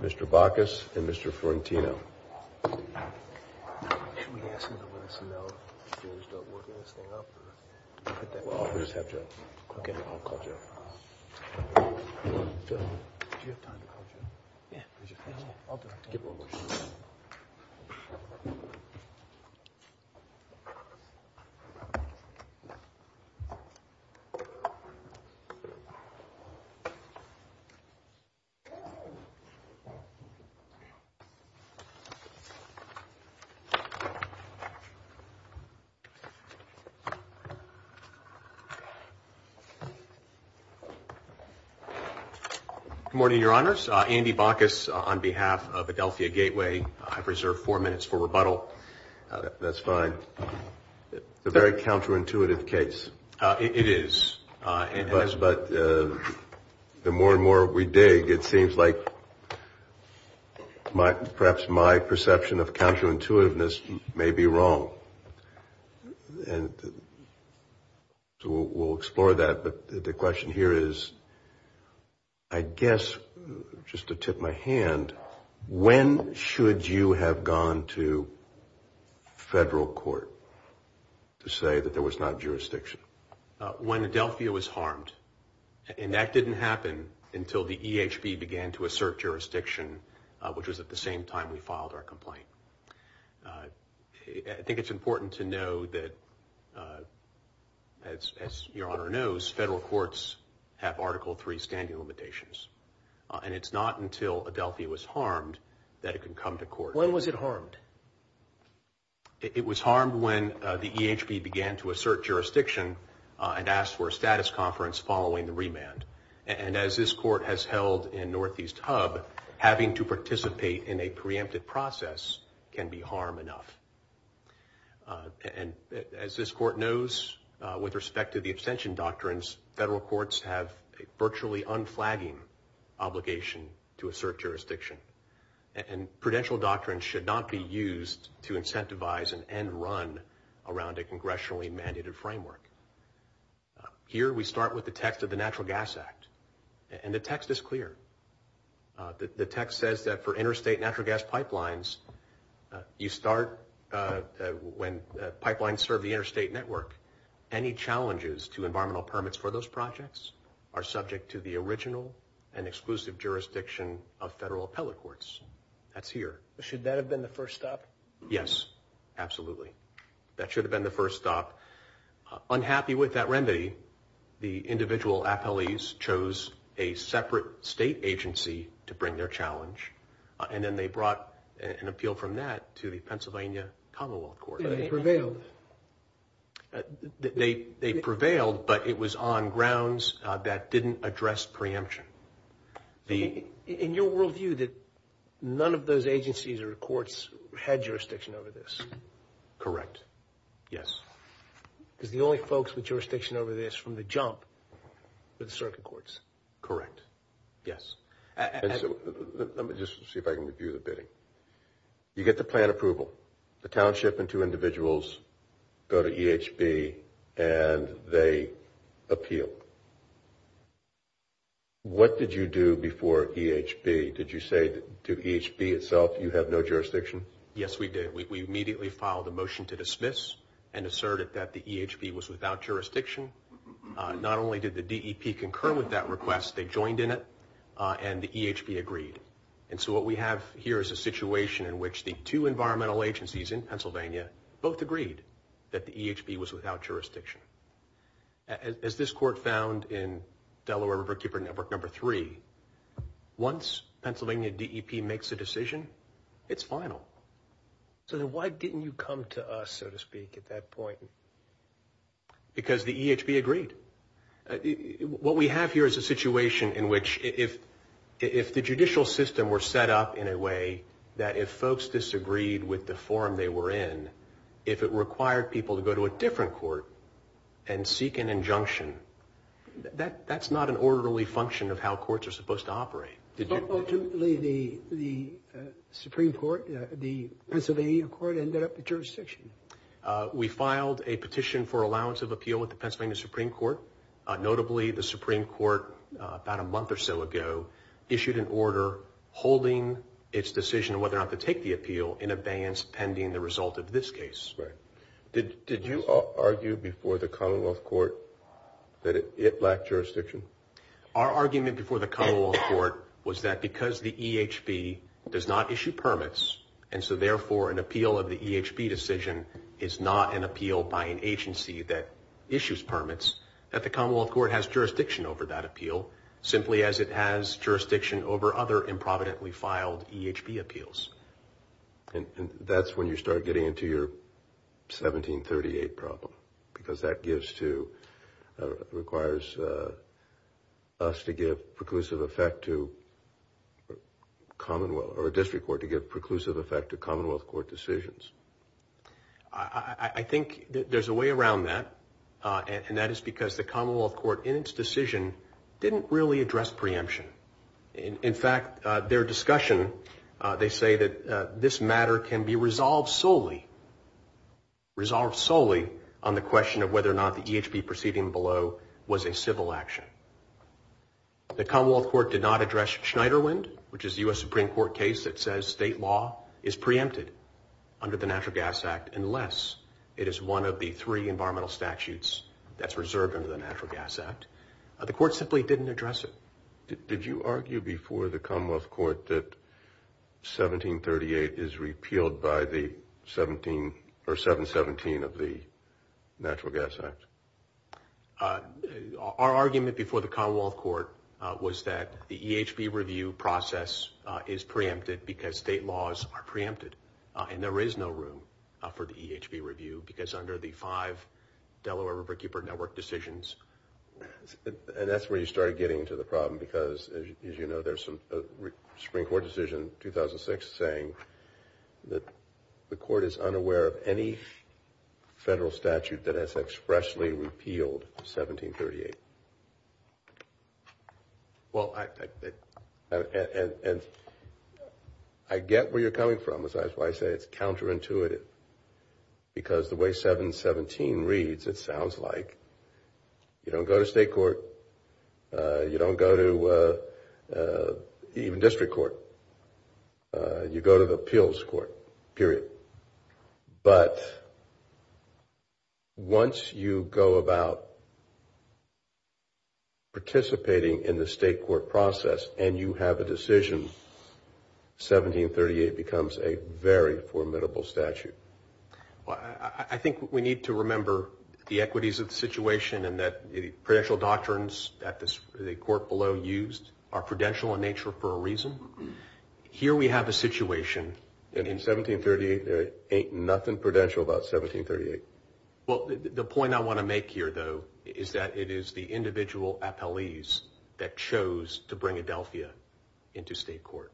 Mr. Bacchus and Mr. Florentino. Good morning, Your Honors. Andy Bacchus on behalf of Adelphia Gateway. I reserve four minutes for rebuttal. That's fine. It's a very counterintuitive case. It is. But the more and more we dig, it seems like perhaps my perception of counterintuitiveness may be wrong. And so we'll explore that. But the question here is, I guess, just to tip my hand, when should you have gone to federal court to say that there was not jurisdiction? When Adelphia was harmed. And that didn't happen until the EHB began to assert jurisdiction, which was at the same time we filed our complaint. I think it's important to know that, as Your Honor knows, federal courts have Article III standing limitations. And it's not until Adelphia was harmed that it could come to court. When was it harmed? It was harmed when the EHB began to assert jurisdiction and asked for a status conference following the remand. And as this court has held in Northeast Hub, having to participate in a preemptive process can be harm enough. And as this court knows, with respect to the abstention doctrines, federal courts have a virtually unflagging obligation to assert jurisdiction. And prudential doctrines should not be used to incentivize an end run around a congressionally mandated framework. Here we start with the text of the Natural Gas Act. And the text is clear. The text says that for interstate natural gas pipelines, you start when pipelines serve the interstate network. Any challenges to environmental permits for those projects are subject to the original and exclusive jurisdiction of federal appellate courts. That's here. Should that have been the first stop? Yes, absolutely. That should have been the first stop. Unhappy with that remedy, the individual appellees chose a separate state agency to bring their challenge. And then they brought an appeal from that to the Pennsylvania Commonwealth Court. They prevailed. They prevailed, but it was on grounds that didn't address preemption. In your world view, none of those agencies or courts had jurisdiction over this? Correct. Yes. Because the only folks with jurisdiction over this from the jump were the circuit courts. Correct. Yes. Let me just see if I can review the bidding. You get the plan approval. The township and two individuals go to EHB and they appeal. What did you do before EHB? Did you say to EHB itself, you have no jurisdiction? Yes, we did. We immediately filed a motion to dismiss and asserted that the EHB was without jurisdiction. Not only did the DEP concur with that request, they joined in it, and the EHB agreed. And so what we have here is a situation in which the two environmental agencies in Pennsylvania both agreed that the EHB was without jurisdiction. As this court found in Delaware Riverkeeper number three, once Pennsylvania DEP makes a decision, it's final. So then why didn't you come to us, so to speak, at that point? Because the EHB agreed. What we have here is a situation in which if the judicial system were set up in a way that if folks disagreed with the forum they were in, if it required people to go to a different court and seek an injunction, that's not an orderly function of how courts are supposed to operate. But ultimately the Supreme Court, the Pennsylvania court, ended up with jurisdiction. We filed a petition for allowance of appeal with the Pennsylvania Supreme Court. Notably, the Supreme Court about a month or so ago issued an order holding its decision whether or not to take the appeal in advance pending the result of this case. Right. Did you argue before the Commonwealth Court that it lacked jurisdiction? Our argument before the Commonwealth Court was that because the EHB does not issue permits, and so therefore an appeal of the EHB decision is not an appeal by an agency that issues permits, that the Commonwealth Court has jurisdiction over that appeal, simply as it has jurisdiction over other improvidently filed EHB appeals. And that's when you start getting into your 1738 problem, because that requires us to give preclusive effect to Commonwealth, or a district court to give preclusive effect to Commonwealth Court decisions. I think there's a way around that, and that is because the Commonwealth Court in its decision didn't really address preemption. In fact, their discussion, they say that this matter can be resolved solely on the question of whether or not the EHB proceeding below was a civil action. The Commonwealth Court did not address Schneiderwind, which is a U.S. Supreme Court case that says state law is preempted under the Natural Gas Act, unless it is one of the three environmental statutes that's reserved under the Natural Gas Act. The Court simply didn't address it. Did you argue before the Commonwealth Court that 1738 is repealed by the 717 of the Natural Gas Act? Our argument before the Commonwealth Court was that the EHB review process is preempted because state laws are preempted, and there is no room for the EHB review because under the five Delaware Riverkeeper Network decisions. And that's where you started getting into the problem because, as you know, there's a Supreme Court decision in 2006 saying that the Court is unaware of any federal statute that has expressly repealed 1738. Well, I get where you're coming from. That's why I say it's counterintuitive because the way 717 reads, it sounds like you don't go to state court. You don't go to even district court. You go to the appeals court, period. But once you go about participating in the state court process and you have a decision, 1738 becomes a very formidable statute. Well, I think we need to remember the equities of the situation and that the prudential doctrines that the Court below used are prudential in nature for a reason. Here we have a situation. And in 1738, there ain't nothing prudential about 1738. Well, the point I want to make here, though, is that it is the individual appellees that chose to bring Adelphia into state court.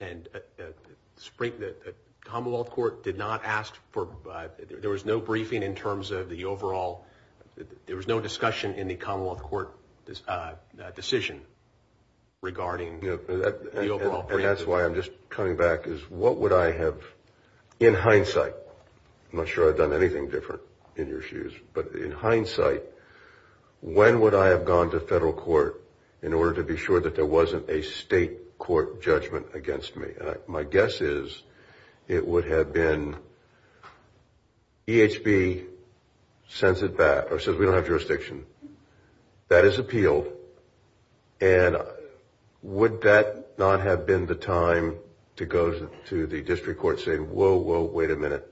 And the Commonwealth Court did not ask for – there was no briefing in terms of the overall – there was no discussion in the Commonwealth Court decision regarding the overall briefing. And that's why I'm just coming back is what would I have – in hindsight, I'm not sure I've done anything different in your shoes, but in hindsight, when would I have gone to federal court in order to be sure that there wasn't a state court judgment against me? My guess is it would have been EHB sends it back or says we don't have jurisdiction. That is appealed. And would that not have been the time to go to the district court saying, whoa, whoa, wait a minute,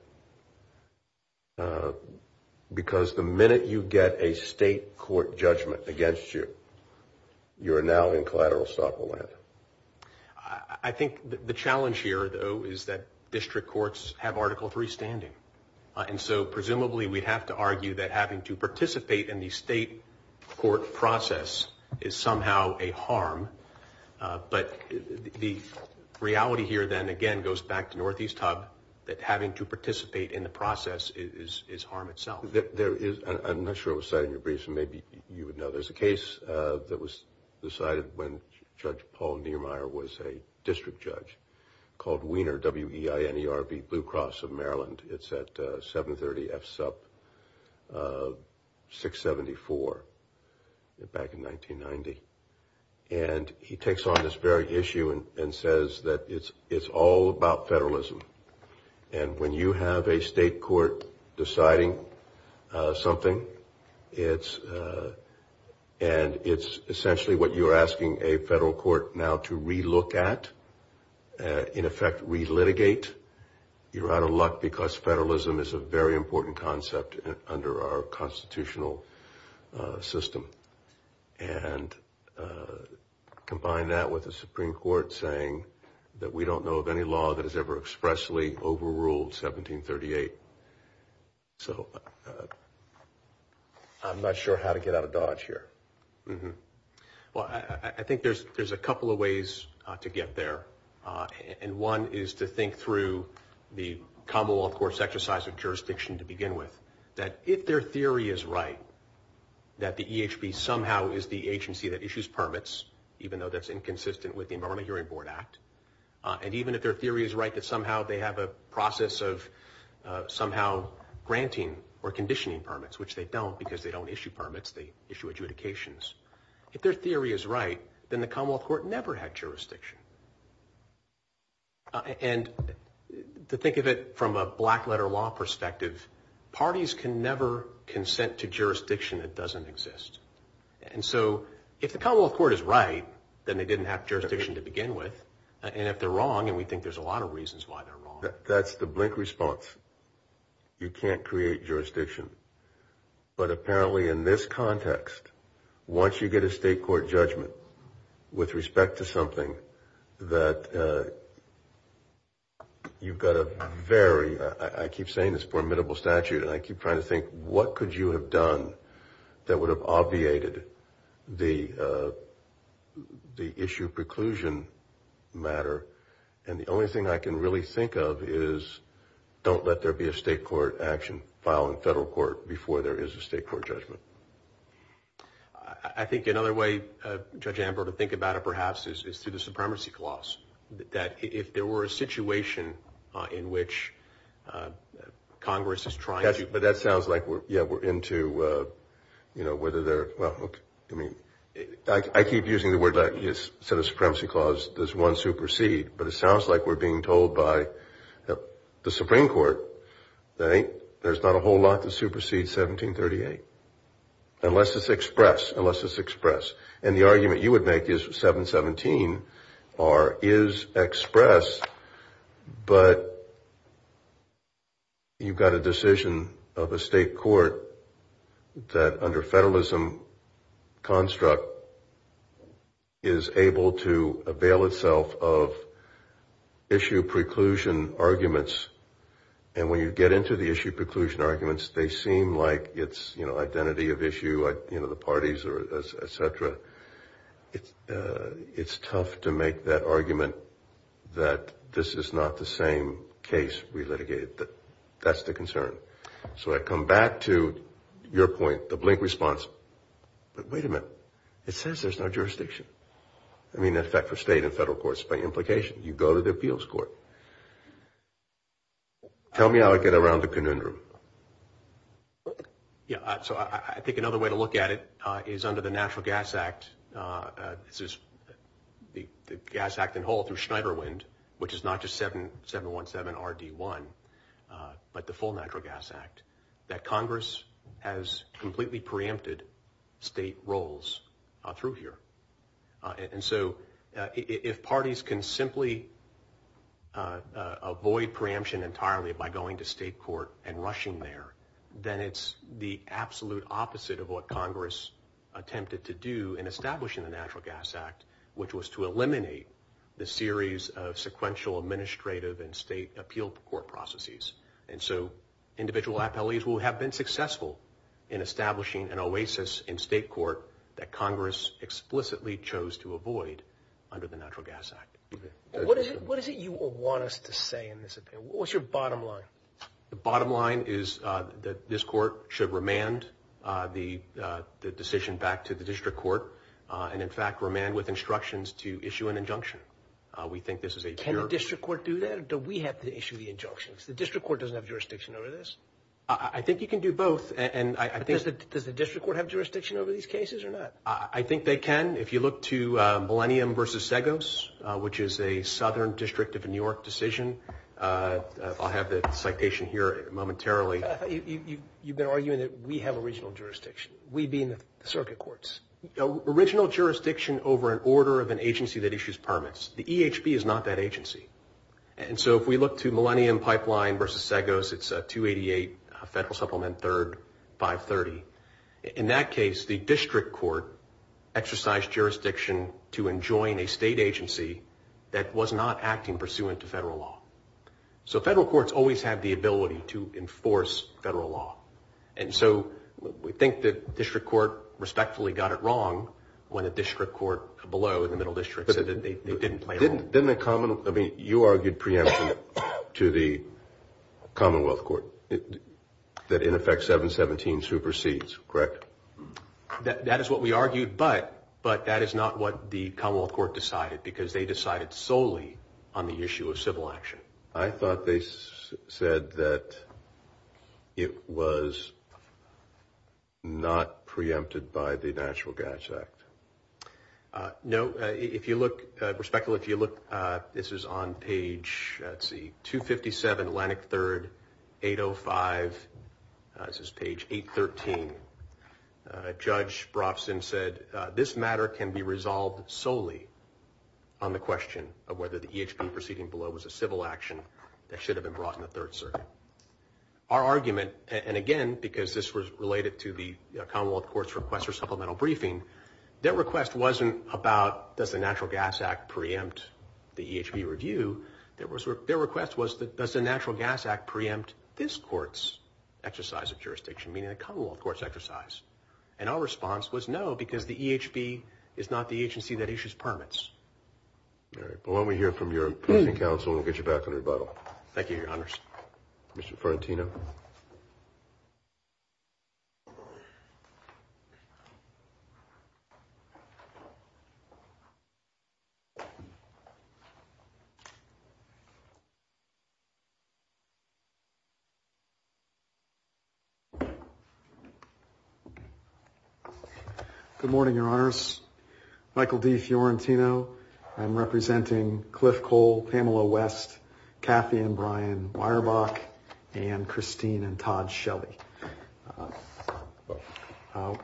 because the minute you get a state court judgment against you, you're now in collateral stockoland. I think the challenge here, though, is that district courts have Article III standing. And so presumably we'd have to argue that having to participate in the state court process is somehow a harm. But the reality here then, again, goes back to Northeast Hub, that having to participate in the process is harm itself. There is – I'm not sure I was citing your briefs, and maybe you would know. There's a case that was decided when Judge Paul Niemeyer was a district judge called Wiener, W-E-I-N-E-R-B, Blue Cross of Maryland. It's at 730 F-SUP 674 back in 1990. And he takes on this very issue and says that it's all about federalism. And when you have a state court deciding something, it's – and it's essentially what you're asking a federal court now to re-look at, in effect re-litigate. You're out of luck because federalism is a very important concept under our constitutional system. And combine that with a Supreme Court saying that we don't know of any law that has ever expressly overruled 1738. So I'm not sure how to get out of dodge here. Well, I think there's a couple of ways to get there. And one is to think through the Commonwealth Court's exercise of jurisdiction to begin with, that if their theory is right that the EHB somehow is the agency that issues permits, even though that's inconsistent with the Environmental Hearing Board Act, and even if their theory is right that somehow they have a process of somehow granting or conditioning permits, which they don't because they don't issue permits. They issue adjudications. If their theory is right, then the Commonwealth Court never had jurisdiction. And to think of it from a black-letter law perspective, parties can never consent to jurisdiction that doesn't exist. And so if the Commonwealth Court is right, then they didn't have jurisdiction to begin with. And if they're wrong, and we think there's a lot of reasons why they're wrong. That's the blink response. You can't create jurisdiction. But apparently in this context, once you get a state court judgment with respect to something that you've got a very, I keep saying this formidable statute, and I keep trying to think, what could you have done that would have obviated the issue preclusion matter? And the only thing I can really think of is don't let there be a state court action filed in federal court before there is a state court judgment. I think another way, Judge Ambrose, to think about it perhaps is through the Supremacy Clause, that if there were a situation in which Congress is trying to. But that sounds like, yeah, we're into, you know, whether they're, well, I mean, I keep using the word, instead of Supremacy Clause, there's one supersede. But it sounds like we're being told by the Supreme Court that there's not a whole lot to supersede 1738. Unless it's express, unless it's express. And the argument you would make is 717 is express, but you've got a decision of a state court that, under federalism construct, is able to avail itself of issue preclusion arguments. And when you get into the issue preclusion arguments, they seem like it's, you know, identity of issue, you know, the parties, et cetera. It's tough to make that argument that this is not the same case we litigated. That's the concern. So I come back to your point, the blink response. But wait a minute. It says there's no jurisdiction. I mean, in effect, for state and federal courts. By implication, you go to the appeals court. Tell me how I get around the conundrum. Yeah. So I think another way to look at it is under the Natural Gas Act. This is the gas act in whole through Schneider Wind, which is not just 717 RD1, but the full Natural Gas Act. That Congress has completely preempted state roles through here. And so if parties can simply avoid preemption entirely by going to state court and rushing there, then it's the absolute opposite of what Congress attempted to do in establishing the Natural Gas Act, which was to eliminate the series of sequential administrative and state appeal court processes. And so individual appellees will have been successful in establishing an oasis in state court that Congress explicitly chose to avoid under the Natural Gas Act. What is it you want us to say in this? What's your bottom line? The bottom line is that this court should remand the decision back to the district court and, in fact, remand with instructions to issue an injunction. We think this is a pure. Can the district court do that or do we have to issue the injunctions? The district court doesn't have jurisdiction over this. I think you can do both. Does the district court have jurisdiction over these cases or not? I think they can. If you look to Millennium v. Seggos, which is a southern district of New York decision, I'll have the citation here momentarily. You've been arguing that we have original jurisdiction, we being the circuit courts. Original jurisdiction over an order of an agency that issues permits. The EHB is not that agency. If we look to Millennium Pipeline v. Seggos, it's 288 Federal Supplement 3rd, 530. In that case, the district court exercised jurisdiction to enjoin a state agency that was not acting pursuant to federal law. Federal courts always have the ability to enforce federal law. We think the district court respectfully got it wrong when the district court below in the middle district said that they didn't play along. You argued preemption to the Commonwealth Court that in effect 717 supersedes, correct? That is what we argued, but that is not what the Commonwealth Court decided because they decided solely on the issue of civil action. I thought they said that it was not preempted by the National Gas Act. Respectfully, if you look, this is on page 257, Atlantic 3rd, 805. This is page 813. Judge Brofson said, this matter can be resolved solely on the question of whether the EHB proceeding below was a civil action that should have been brought in the Third Circuit. Our argument, and again, because this was related to the Commonwealth Court's request for supplemental briefing, their request wasn't about, does the Natural Gas Act preempt the EHB review? Their request was, does the Natural Gas Act preempt this court's exercise of jurisdiction, meaning the Commonwealth Court's exercise? And our response was no, because the EHB is not the agency that issues permits. All right. Well, why don't we hear from your opposing counsel, and we'll get you back on rebuttal. Thank you, Your Honors. Mr. Ferentino. Good morning, Your Honors. Michael D. Fiorentino. I'm representing Cliff Cole, Pamela West, Kathy and Brian Weyerbach, and Christine and Todd Shelley. From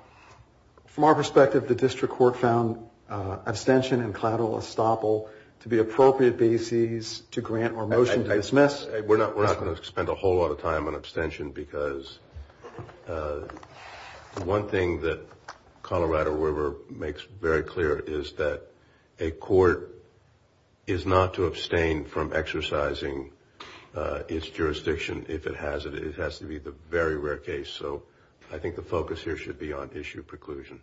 our perspective, the district court found abstention and collateral estoppel to be appropriate bases to grant or motion to dismiss. We're not going to spend a whole lot of time on abstention, because one thing that Colorado River makes very clear is that a court is not to abstain from exercising its jurisdiction if it has it. It has to be the very rare case. So I think the focus here should be on issue preclusion.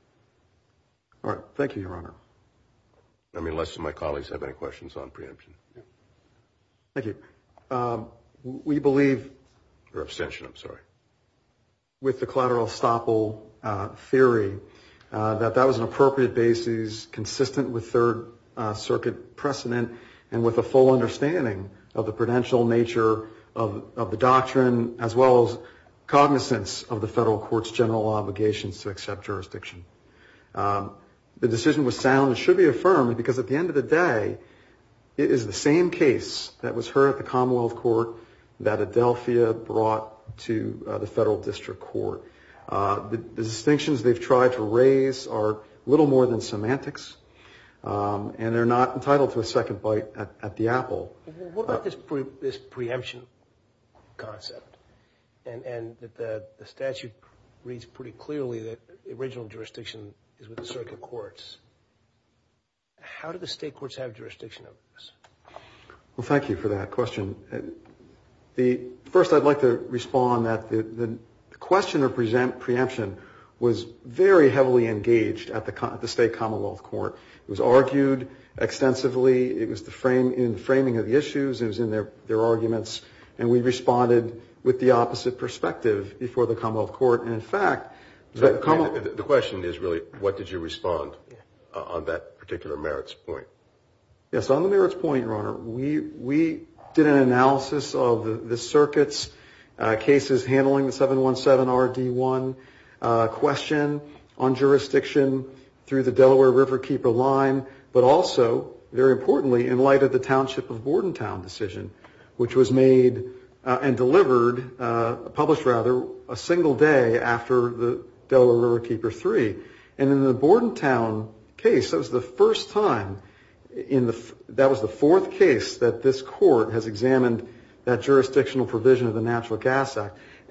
All right. Thank you, Your Honor. I mean, unless my colleagues have any questions on preemption. Thank you. We believe, or abstention, I'm sorry, with the collateral estoppel theory, that that was an appropriate basis consistent with Third Circuit precedent and with a full understanding of the prudential nature of the doctrine, as well as cognizance of the federal court's general obligations to accept jurisdiction. The decision was sound and should be affirmed, because at the end of the day, it is the same case that was heard at the Commonwealth Court that Adelphia brought to the federal district court. The distinctions they've tried to raise are little more than semantics, and they're not entitled to a second bite at the apple. What about this preemption concept, and that the statute reads pretty clearly that the original jurisdiction is with the circuit courts? How do the state courts have jurisdiction over this? Well, thank you for that question. First, I'd like to respond that the question of preemption was very heavily engaged at the state Commonwealth Court. It was argued extensively. It was in the framing of the issues. It was in their arguments. And we responded with the opposite perspective before the Commonwealth Court. And, in fact, the Commonwealth Court ---- The question is, really, what did you respond on that particular merits point? Yes, on the merits point, Your Honor, we did an analysis of the circuit's cases, handling the 717RD1 question on jurisdiction through the Delaware Riverkeeper line, but also, very importantly, in light of the Township of Bordentown decision, which was made and delivered ---- published, rather, a single day after the Delaware Riverkeeper 3. And in the Bordentown case, that was the first time in the ----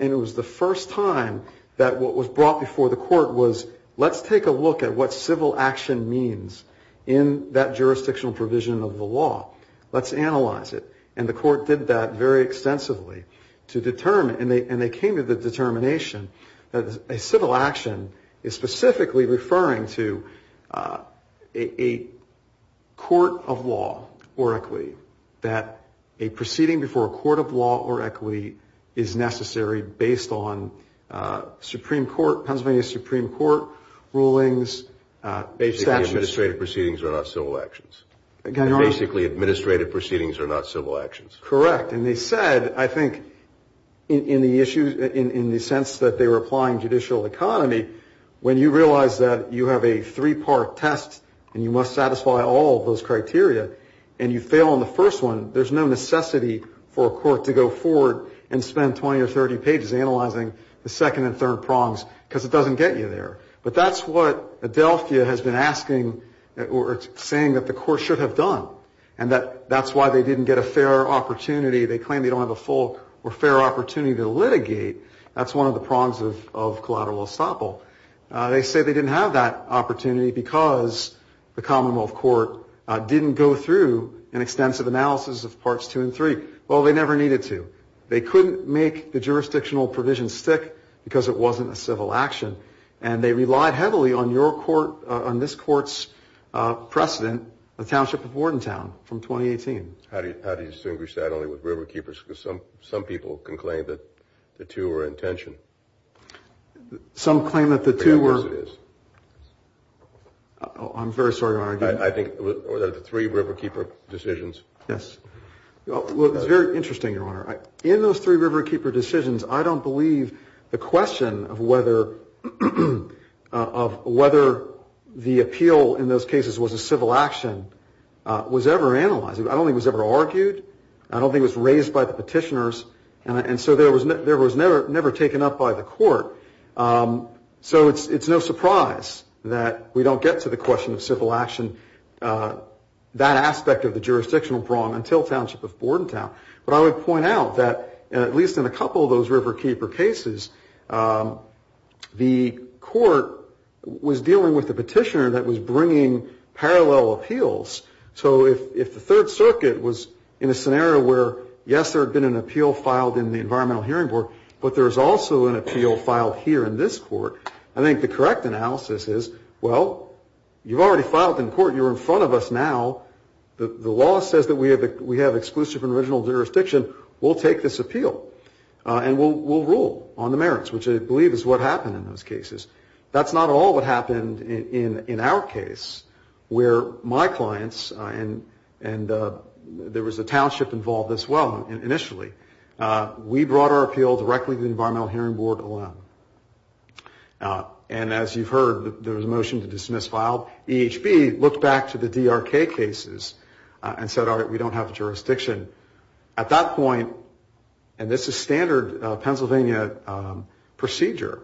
And it was the first time that what was brought before the court was, let's take a look at what civil action means in that jurisdictional provision of the law. Let's analyze it. And the court did that very extensively to determine, and they came to the determination, that a civil action is specifically referring to a court of law or equity, that a proceeding before a court of law or equity is necessary based on Pennsylvania Supreme Court rulings. Basically, administrative proceedings are not civil actions. Basically, administrative proceedings are not civil actions. Correct. And they said, I think, in the sense that they were applying judicial economy, when you realize that you have a three-part test and you must satisfy all of those criteria and you fail on the first one, there's no necessity for a court to go forward and spend 20 or 30 pages analyzing the second and third prongs because it doesn't get you there. But that's what Adelphia has been asking or saying that the court should have done. And that's why they didn't get a fair opportunity. They claim they don't have a full or fair opportunity to litigate. That's one of the prongs of collateral estoppel. They say they didn't have that opportunity because the Commonwealth Court didn't go through an extensive analysis of parts two and three. Well, they never needed to. They couldn't make the jurisdictional provision stick because it wasn't a civil action. And they relied heavily on your court, on this court's precedent, the Township of Wardentown from 2018. How do you distinguish that only with river keepers? Because some people can claim that the two are in tension. Some claim that the two were. Yes, it is. I'm very sorry to argue. I think the three river keeper decisions. Well, it's very interesting, Your Honor. In those three river keeper decisions, I don't believe the question of whether the appeal in those cases was a civil action was ever analyzed. I don't think it was ever argued. I don't think it was raised by the petitioners. And so there was never taken up by the court. So it's no surprise that we don't get to the question of civil action, that aspect of the jurisdictional prong, until Township of Wardentown. But I would point out that, at least in a couple of those river keeper cases, the court was dealing with a petitioner that was bringing parallel appeals. So if the Third Circuit was in a scenario where, yes, there had been an appeal filed in the Environmental Hearing Board, but there's also an appeal filed here in this court, I think the correct analysis is, well, you've already filed in court. You're in front of us now. The law says that we have exclusive and original jurisdiction. We'll take this appeal. And we'll rule on the merits, which I believe is what happened in those cases. That's not at all what happened in our case, where my clients and there was a township involved as well initially. We brought our appeal directly to the Environmental Hearing Board alone. And as you've heard, there was a motion to dismiss file. EHB looked back to the DRK cases and said, all right, we don't have the jurisdiction. At that point, and this is standard Pennsylvania procedure,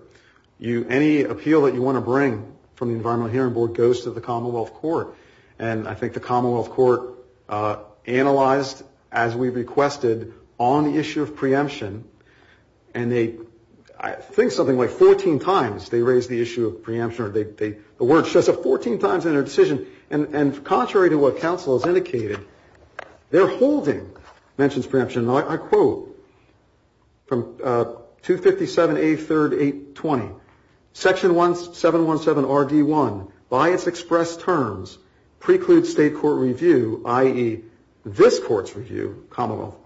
any appeal that you want to bring from the Environmental Hearing Board goes to the Commonwealth Court. And I think the Commonwealth Court analyzed, as we requested, on the issue of preemption. And they, I think something like 14 times, they raised the issue of preemption. The word shows up 14 times in their decision. And contrary to what counsel has indicated, they're holding mentions preemption. And I quote from 257A3-820, Section 717RD1, by its express terms, precludes state court review, i.e., this court's review, Commonwealth,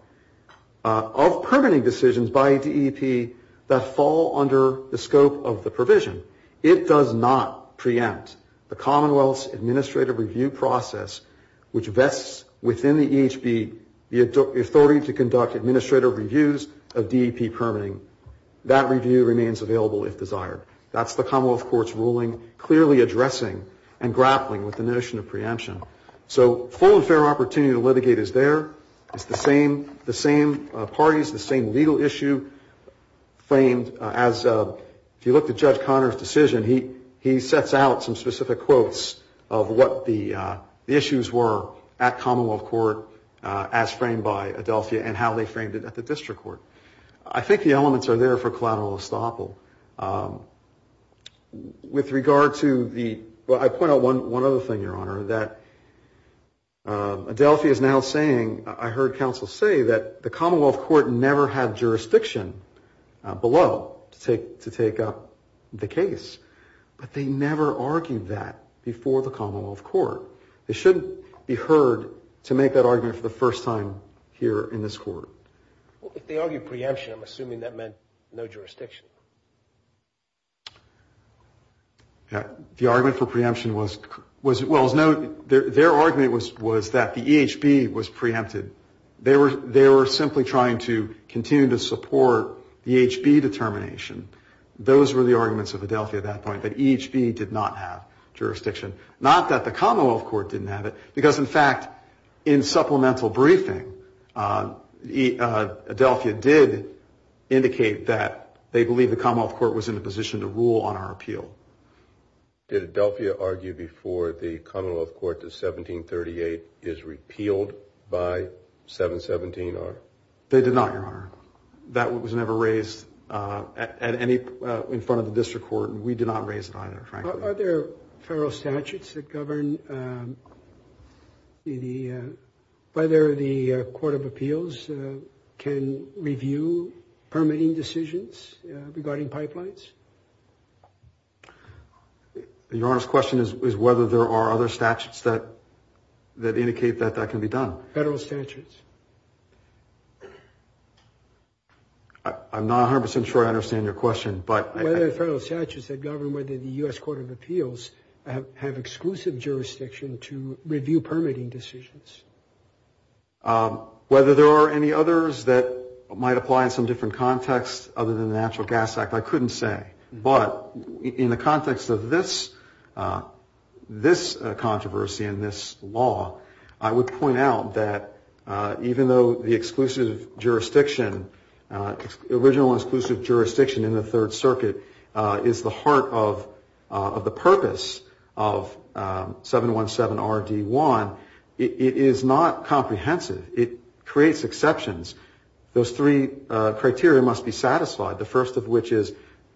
of permitting decisions by DEP that fall under the scope of the provision. It does not preempt the Commonwealth's administrative review process, which vests within the EHB the authority to conduct administrative reviews of DEP permitting. That review remains available if desired. That's the Commonwealth Court's ruling clearly addressing and grappling with the notion of preemption. So full and fair opportunity to litigate is there. It's the same parties, the same legal issue. I think the issue framed as, if you look at Judge Conner's decision, he sets out some specific quotes of what the issues were at Commonwealth Court as framed by Adelphia and how they framed it at the district court. I think the elements are there for collateral estoppel. With regard to the, well, I point out one other thing, Your Honor, that Adelphia is now saying, I heard counsel say that the Commonwealth Court never had jurisdiction below to take up the case, but they never argued that before the Commonwealth Court. It shouldn't be heard to make that argument for the first time here in this court. Well, if they argued preemption, I'm assuming that meant no jurisdiction. The argument for preemption was, well, as noted, their argument was that the EHB was preempted. They were simply trying to continue to support the EHB determination. Those were the arguments of Adelphia at that point, that EHB did not have jurisdiction. Not that the Commonwealth Court didn't have it, because, in fact, in supplemental briefing, Adelphia did indicate that they believed the Commonwealth Court was in a position to rule on our appeal. Did Adelphia argue before the Commonwealth Court that 1738 is repealed by 717-R? They did not, Your Honor. That was never raised in front of the district court, and we did not raise it either, frankly. Are there federal statutes that govern whether the Court of Appeals can review permitting decisions regarding pipelines? Your Honor's question is whether there are other statutes that indicate that that can be done. Federal statutes. I'm not 100 percent sure I understand your question. Are there federal statutes that govern whether the U.S. Court of Appeals have exclusive jurisdiction to review permitting decisions? Whether there are any others that might apply in some different context other than the Natural Gas Act, I couldn't say. But in the context of this controversy and this law, I would point out that even though the exclusive jurisdiction, original and exclusive jurisdiction in the Third Circuit is the heart of the purpose of 717-RD1, it is not comprehensive. It creates exceptions. Those three criteria must be satisfied, the first of which is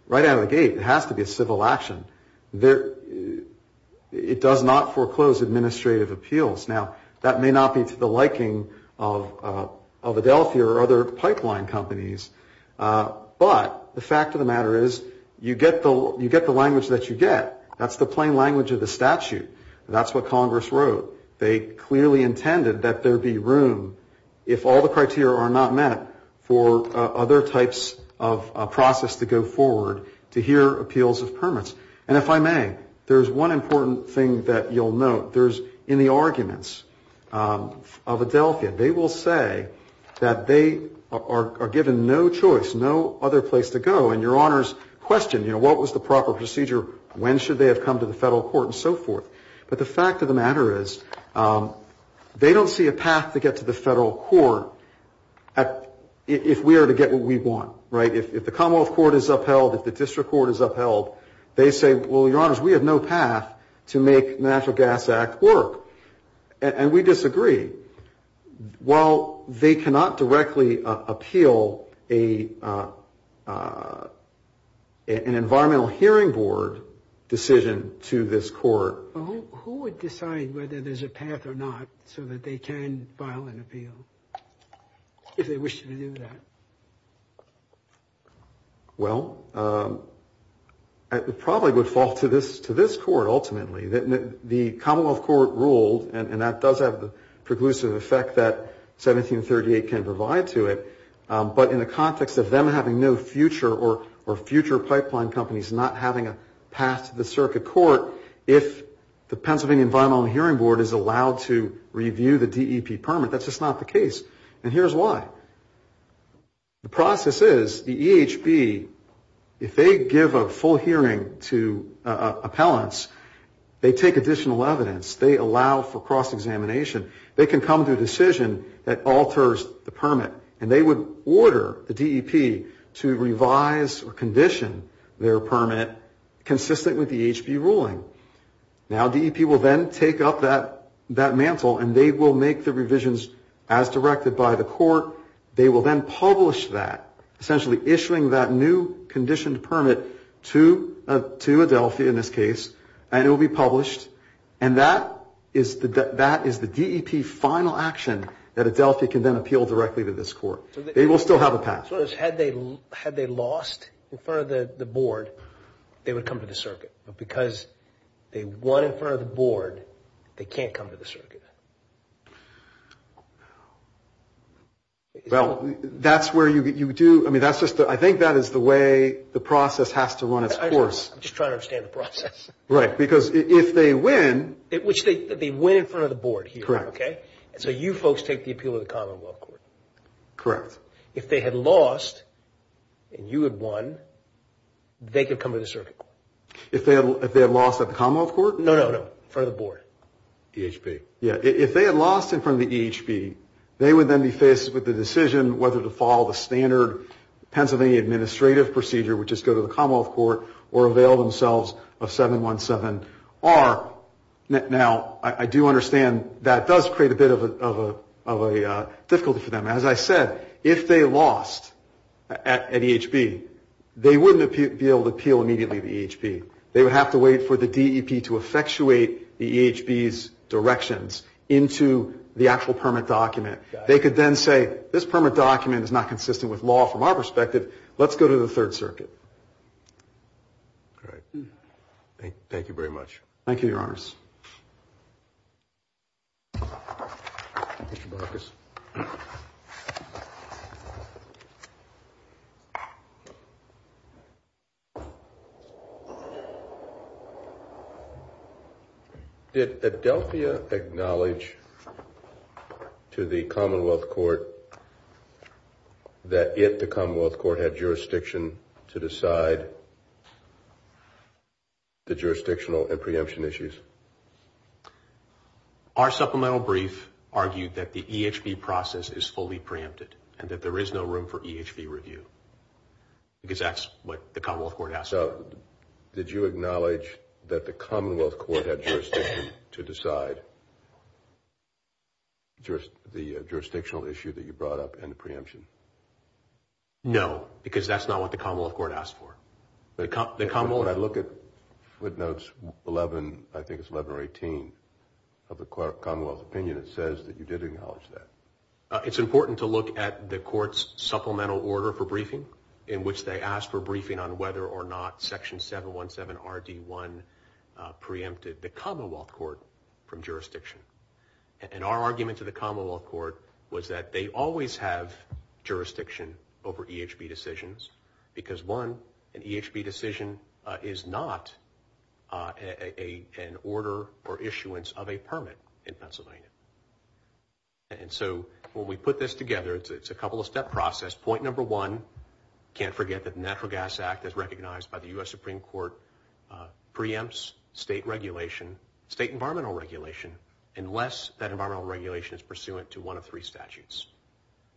right out of the gate, it has to be a civil action. It does not foreclose administrative appeals. Now, that may not be to the liking of Adelphia or other pipeline companies, but the fact of the matter is you get the language that you get. That's the plain language of the statute. That's what Congress wrote. They clearly intended that there be room, if all the criteria are not met, for other types of process to go forward to hear appeals of permits. And if I may, there's one important thing that you'll note. There's in the arguments of Adelphia, they will say that they are given no choice, no other place to go. And Your Honors question, you know, what was the proper procedure? When should they have come to the federal court and so forth? But the fact of the matter is they don't see a path to get to the federal court if we are to get what we want, right? If the Commonwealth Court is upheld, if the District Court is upheld, they say, well, Your Honors, we have no path to make the Natural Gas Act work. And we disagree. While they cannot directly appeal an Environmental Hearing Board decision to this court. Who would decide whether there's a path or not so that they can file an appeal if they wish to do that? Well, it probably would fall to this court ultimately. The Commonwealth Court ruled, and that does have the preclusive effect that 1738 can provide to it. But in the context of them having no future or future pipeline companies not having a path to the circuit court, if the Pennsylvania Environmental Hearing Board is allowed to review the DEP permit, that's just not the case. And here's why. The process is the EHB, if they give a full hearing to appellants, they take additional evidence. They allow for cross-examination. And they would order the DEP to revise or condition their permit consistent with the EHB ruling. Now, DEP will then take up that mantle and they will make the revisions as directed by the court. They will then publish that, essentially issuing that new conditioned permit to Adelphia in this case. And it will be published. And that is the DEP final action that Adelphia can then appeal directly to this court. They will still have a path. So had they lost in front of the board, they would come to the circuit. But because they won in front of the board, they can't come to the circuit. Well, that's where you do – I mean, that's just – I think that is the way the process has to run its course. I'm just trying to understand the process. Right. Because if they win – Which they win in front of the board here. Correct. Okay? So you folks take the appeal to the Commonwealth Court. Correct. If they had lost and you had won, they could come to the circuit. If they had lost at the Commonwealth Court? No, no, no. In front of the board. EHB. Yeah. If they had lost in front of the EHB, they would then be faced with the decision whether to follow the standard Pennsylvania administrative procedure, which is go to the Commonwealth Court, or avail themselves of 717-R. Now, I do understand that does create a bit of a difficulty for them. As I said, if they lost at EHB, they wouldn't be able to appeal immediately to EHB. They would have to wait for the DEP to effectuate the EHB's directions into the actual permit document. They could then say, this permit document is not consistent with law from our perspective. Let's go to the Third Circuit. Great. Thank you very much. Mr. Marcus. Did Adelphia acknowledge to the Commonwealth Court that it, the Commonwealth Court, had jurisdiction to decide the jurisdictional and preemption issues? Our supplemental brief argued that the EHB process is fully preempted and that there is no room for EHB review, because that's what the Commonwealth Court asked for. So, did you acknowledge that the Commonwealth Court had jurisdiction to decide the jurisdictional issue that you brought up and the preemption? No, because that's not what the Commonwealth Court asked for. When I look at footnotes 11, I think it's 11 or 18 of the Commonwealth's opinion, it says that you did acknowledge that. It's important to look at the court's supplemental order for briefing, in which they asked for briefing on whether or not Section 717RD1 preempted the Commonwealth Court from jurisdiction. And our argument to the Commonwealth Court was that they always have jurisdiction over EHB decisions, because one, an EHB decision is not an order or issuance of a permit in Pennsylvania. And so when we put this together, it's a couple of step process. Point number one, can't forget that the Natural Gas Act, as recognized by the U.S. Supreme Court, preempts state regulation, state environmental regulation, unless that environmental regulation is pursuant to one of three statutes.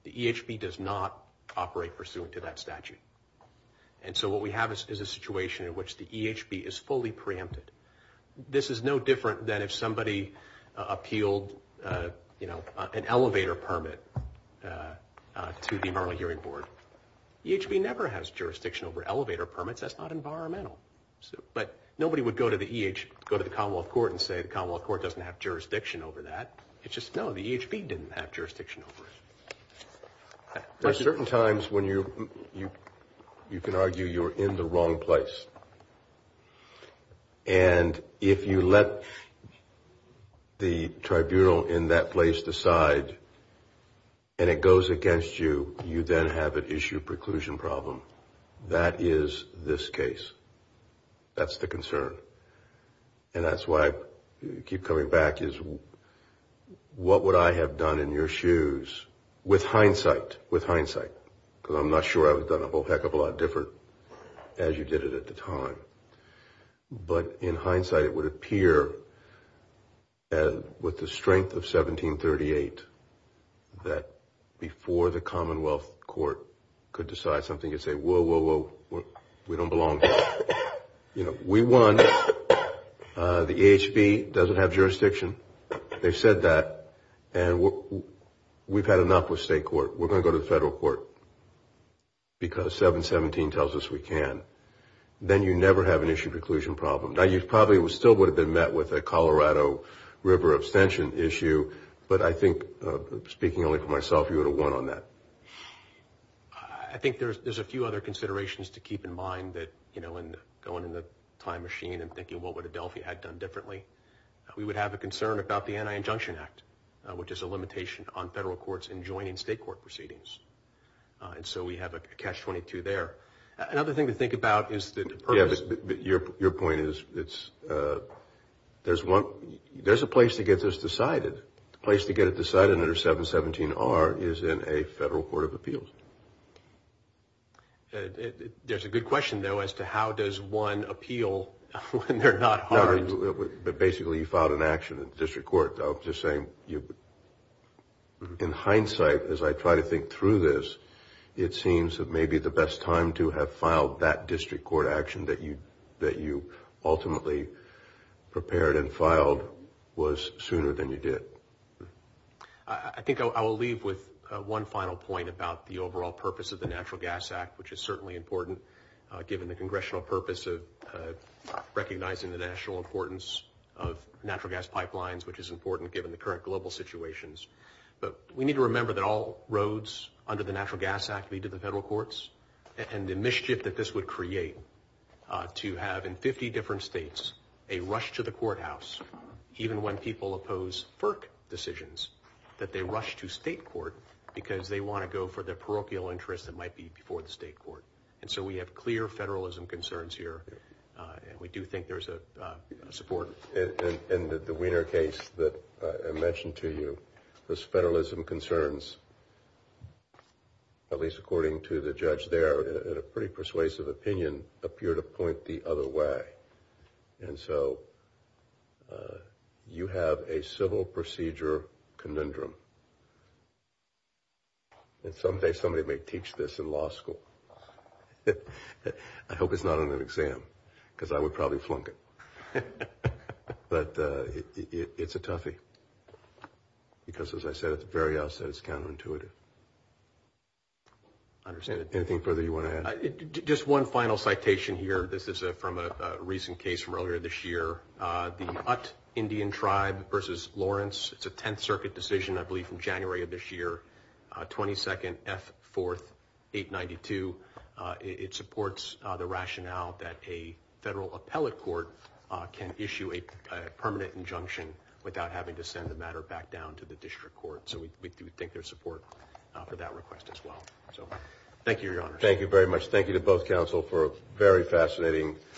The EHB does not operate pursuant to that statute. And so what we have is a situation in which the EHB is fully preempted. This is no different than if somebody appealed an elevator permit to the Environmental Hearing Board. EHB never has jurisdiction over elevator permits. That's not environmental. But nobody would go to the Commonwealth Court and say the Commonwealth Court doesn't have jurisdiction over that. It's just, no, the EHB didn't have jurisdiction over it. There are certain times when you can argue you're in the wrong place. And if you let the tribunal in that place decide and it goes against you, you then have an issue preclusion problem. That is this case. That's the concern. And that's why I keep coming back is what would I have done in your shoes with hindsight, with hindsight? Because I'm not sure I would have done a whole heck of a lot different as you did it at the time. But in hindsight, it would appear with the strength of 1738 that before the Commonwealth Court could decide something, you'd say, whoa, whoa, whoa, we don't belong here. You know, we won. The EHB doesn't have jurisdiction. They said that. And we've had enough with state court. We're going to go to the federal court because 717 tells us we can. Then you never have an issue preclusion problem. Now, you probably still would have been met with a Colorado River abstention issue. But I think, speaking only for myself, you would have won on that. I think there's a few other considerations to keep in mind that, you know, going in the time machine and thinking what would Adelphi had done differently. We would have a concern about the Anti-Injunction Act, which is a limitation on federal courts in joining state court proceedings. And so we have a catch-22 there. Another thing to think about is the purpose. Your point is there's a place to get this decided. The place to get it decided under 717-R is in a federal court of appeals. There's a good question, though, as to how does one appeal when they're not harmed? Basically, you filed an action at the district court. I'm just saying, in hindsight, as I try to think through this, it seems that maybe the best time to have filed that district court action that you ultimately prepared and filed was sooner than you did. I think I will leave with one final point about the overall purpose of the Natural Gas Act, which is certainly important given the congressional purpose of recognizing the national importance of natural gas pipelines, which is important given the current global situations. But we need to remember that all roads under the Natural Gas Act lead to the federal courts, and the mischief that this would create to have in 50 different states a rush to the courthouse, even when people oppose FERC decisions, that they rush to state court because they want to go for the parochial interest that might be before the state court. And so we have clear federalism concerns here, and we do think there's a support. In the Wiener case that I mentioned to you, those federalism concerns, at least according to the judge there, in a pretty persuasive opinion, appear to point the other way. And so you have a civil procedure conundrum. And someday somebody may teach this in law school. I hope it's not on an exam, because I would probably flunk it. But it's a toughie, because as I said at the very outset, it's counterintuitive. Anything further you want to add? Just one final citation here. This is from a recent case from earlier this year, the Ut Indian Tribe versus Lawrence. It's a Tenth Circuit decision, I believe, from January of this year, 22nd F. 4th, 892. It supports the rationale that a federal appellate court can issue a permanent injunction without having to send the matter back down to the district court. So we do think there's support for that request as well. So thank you, Your Honor. Thank you very much. Thank you to both counsel for a very fascinating.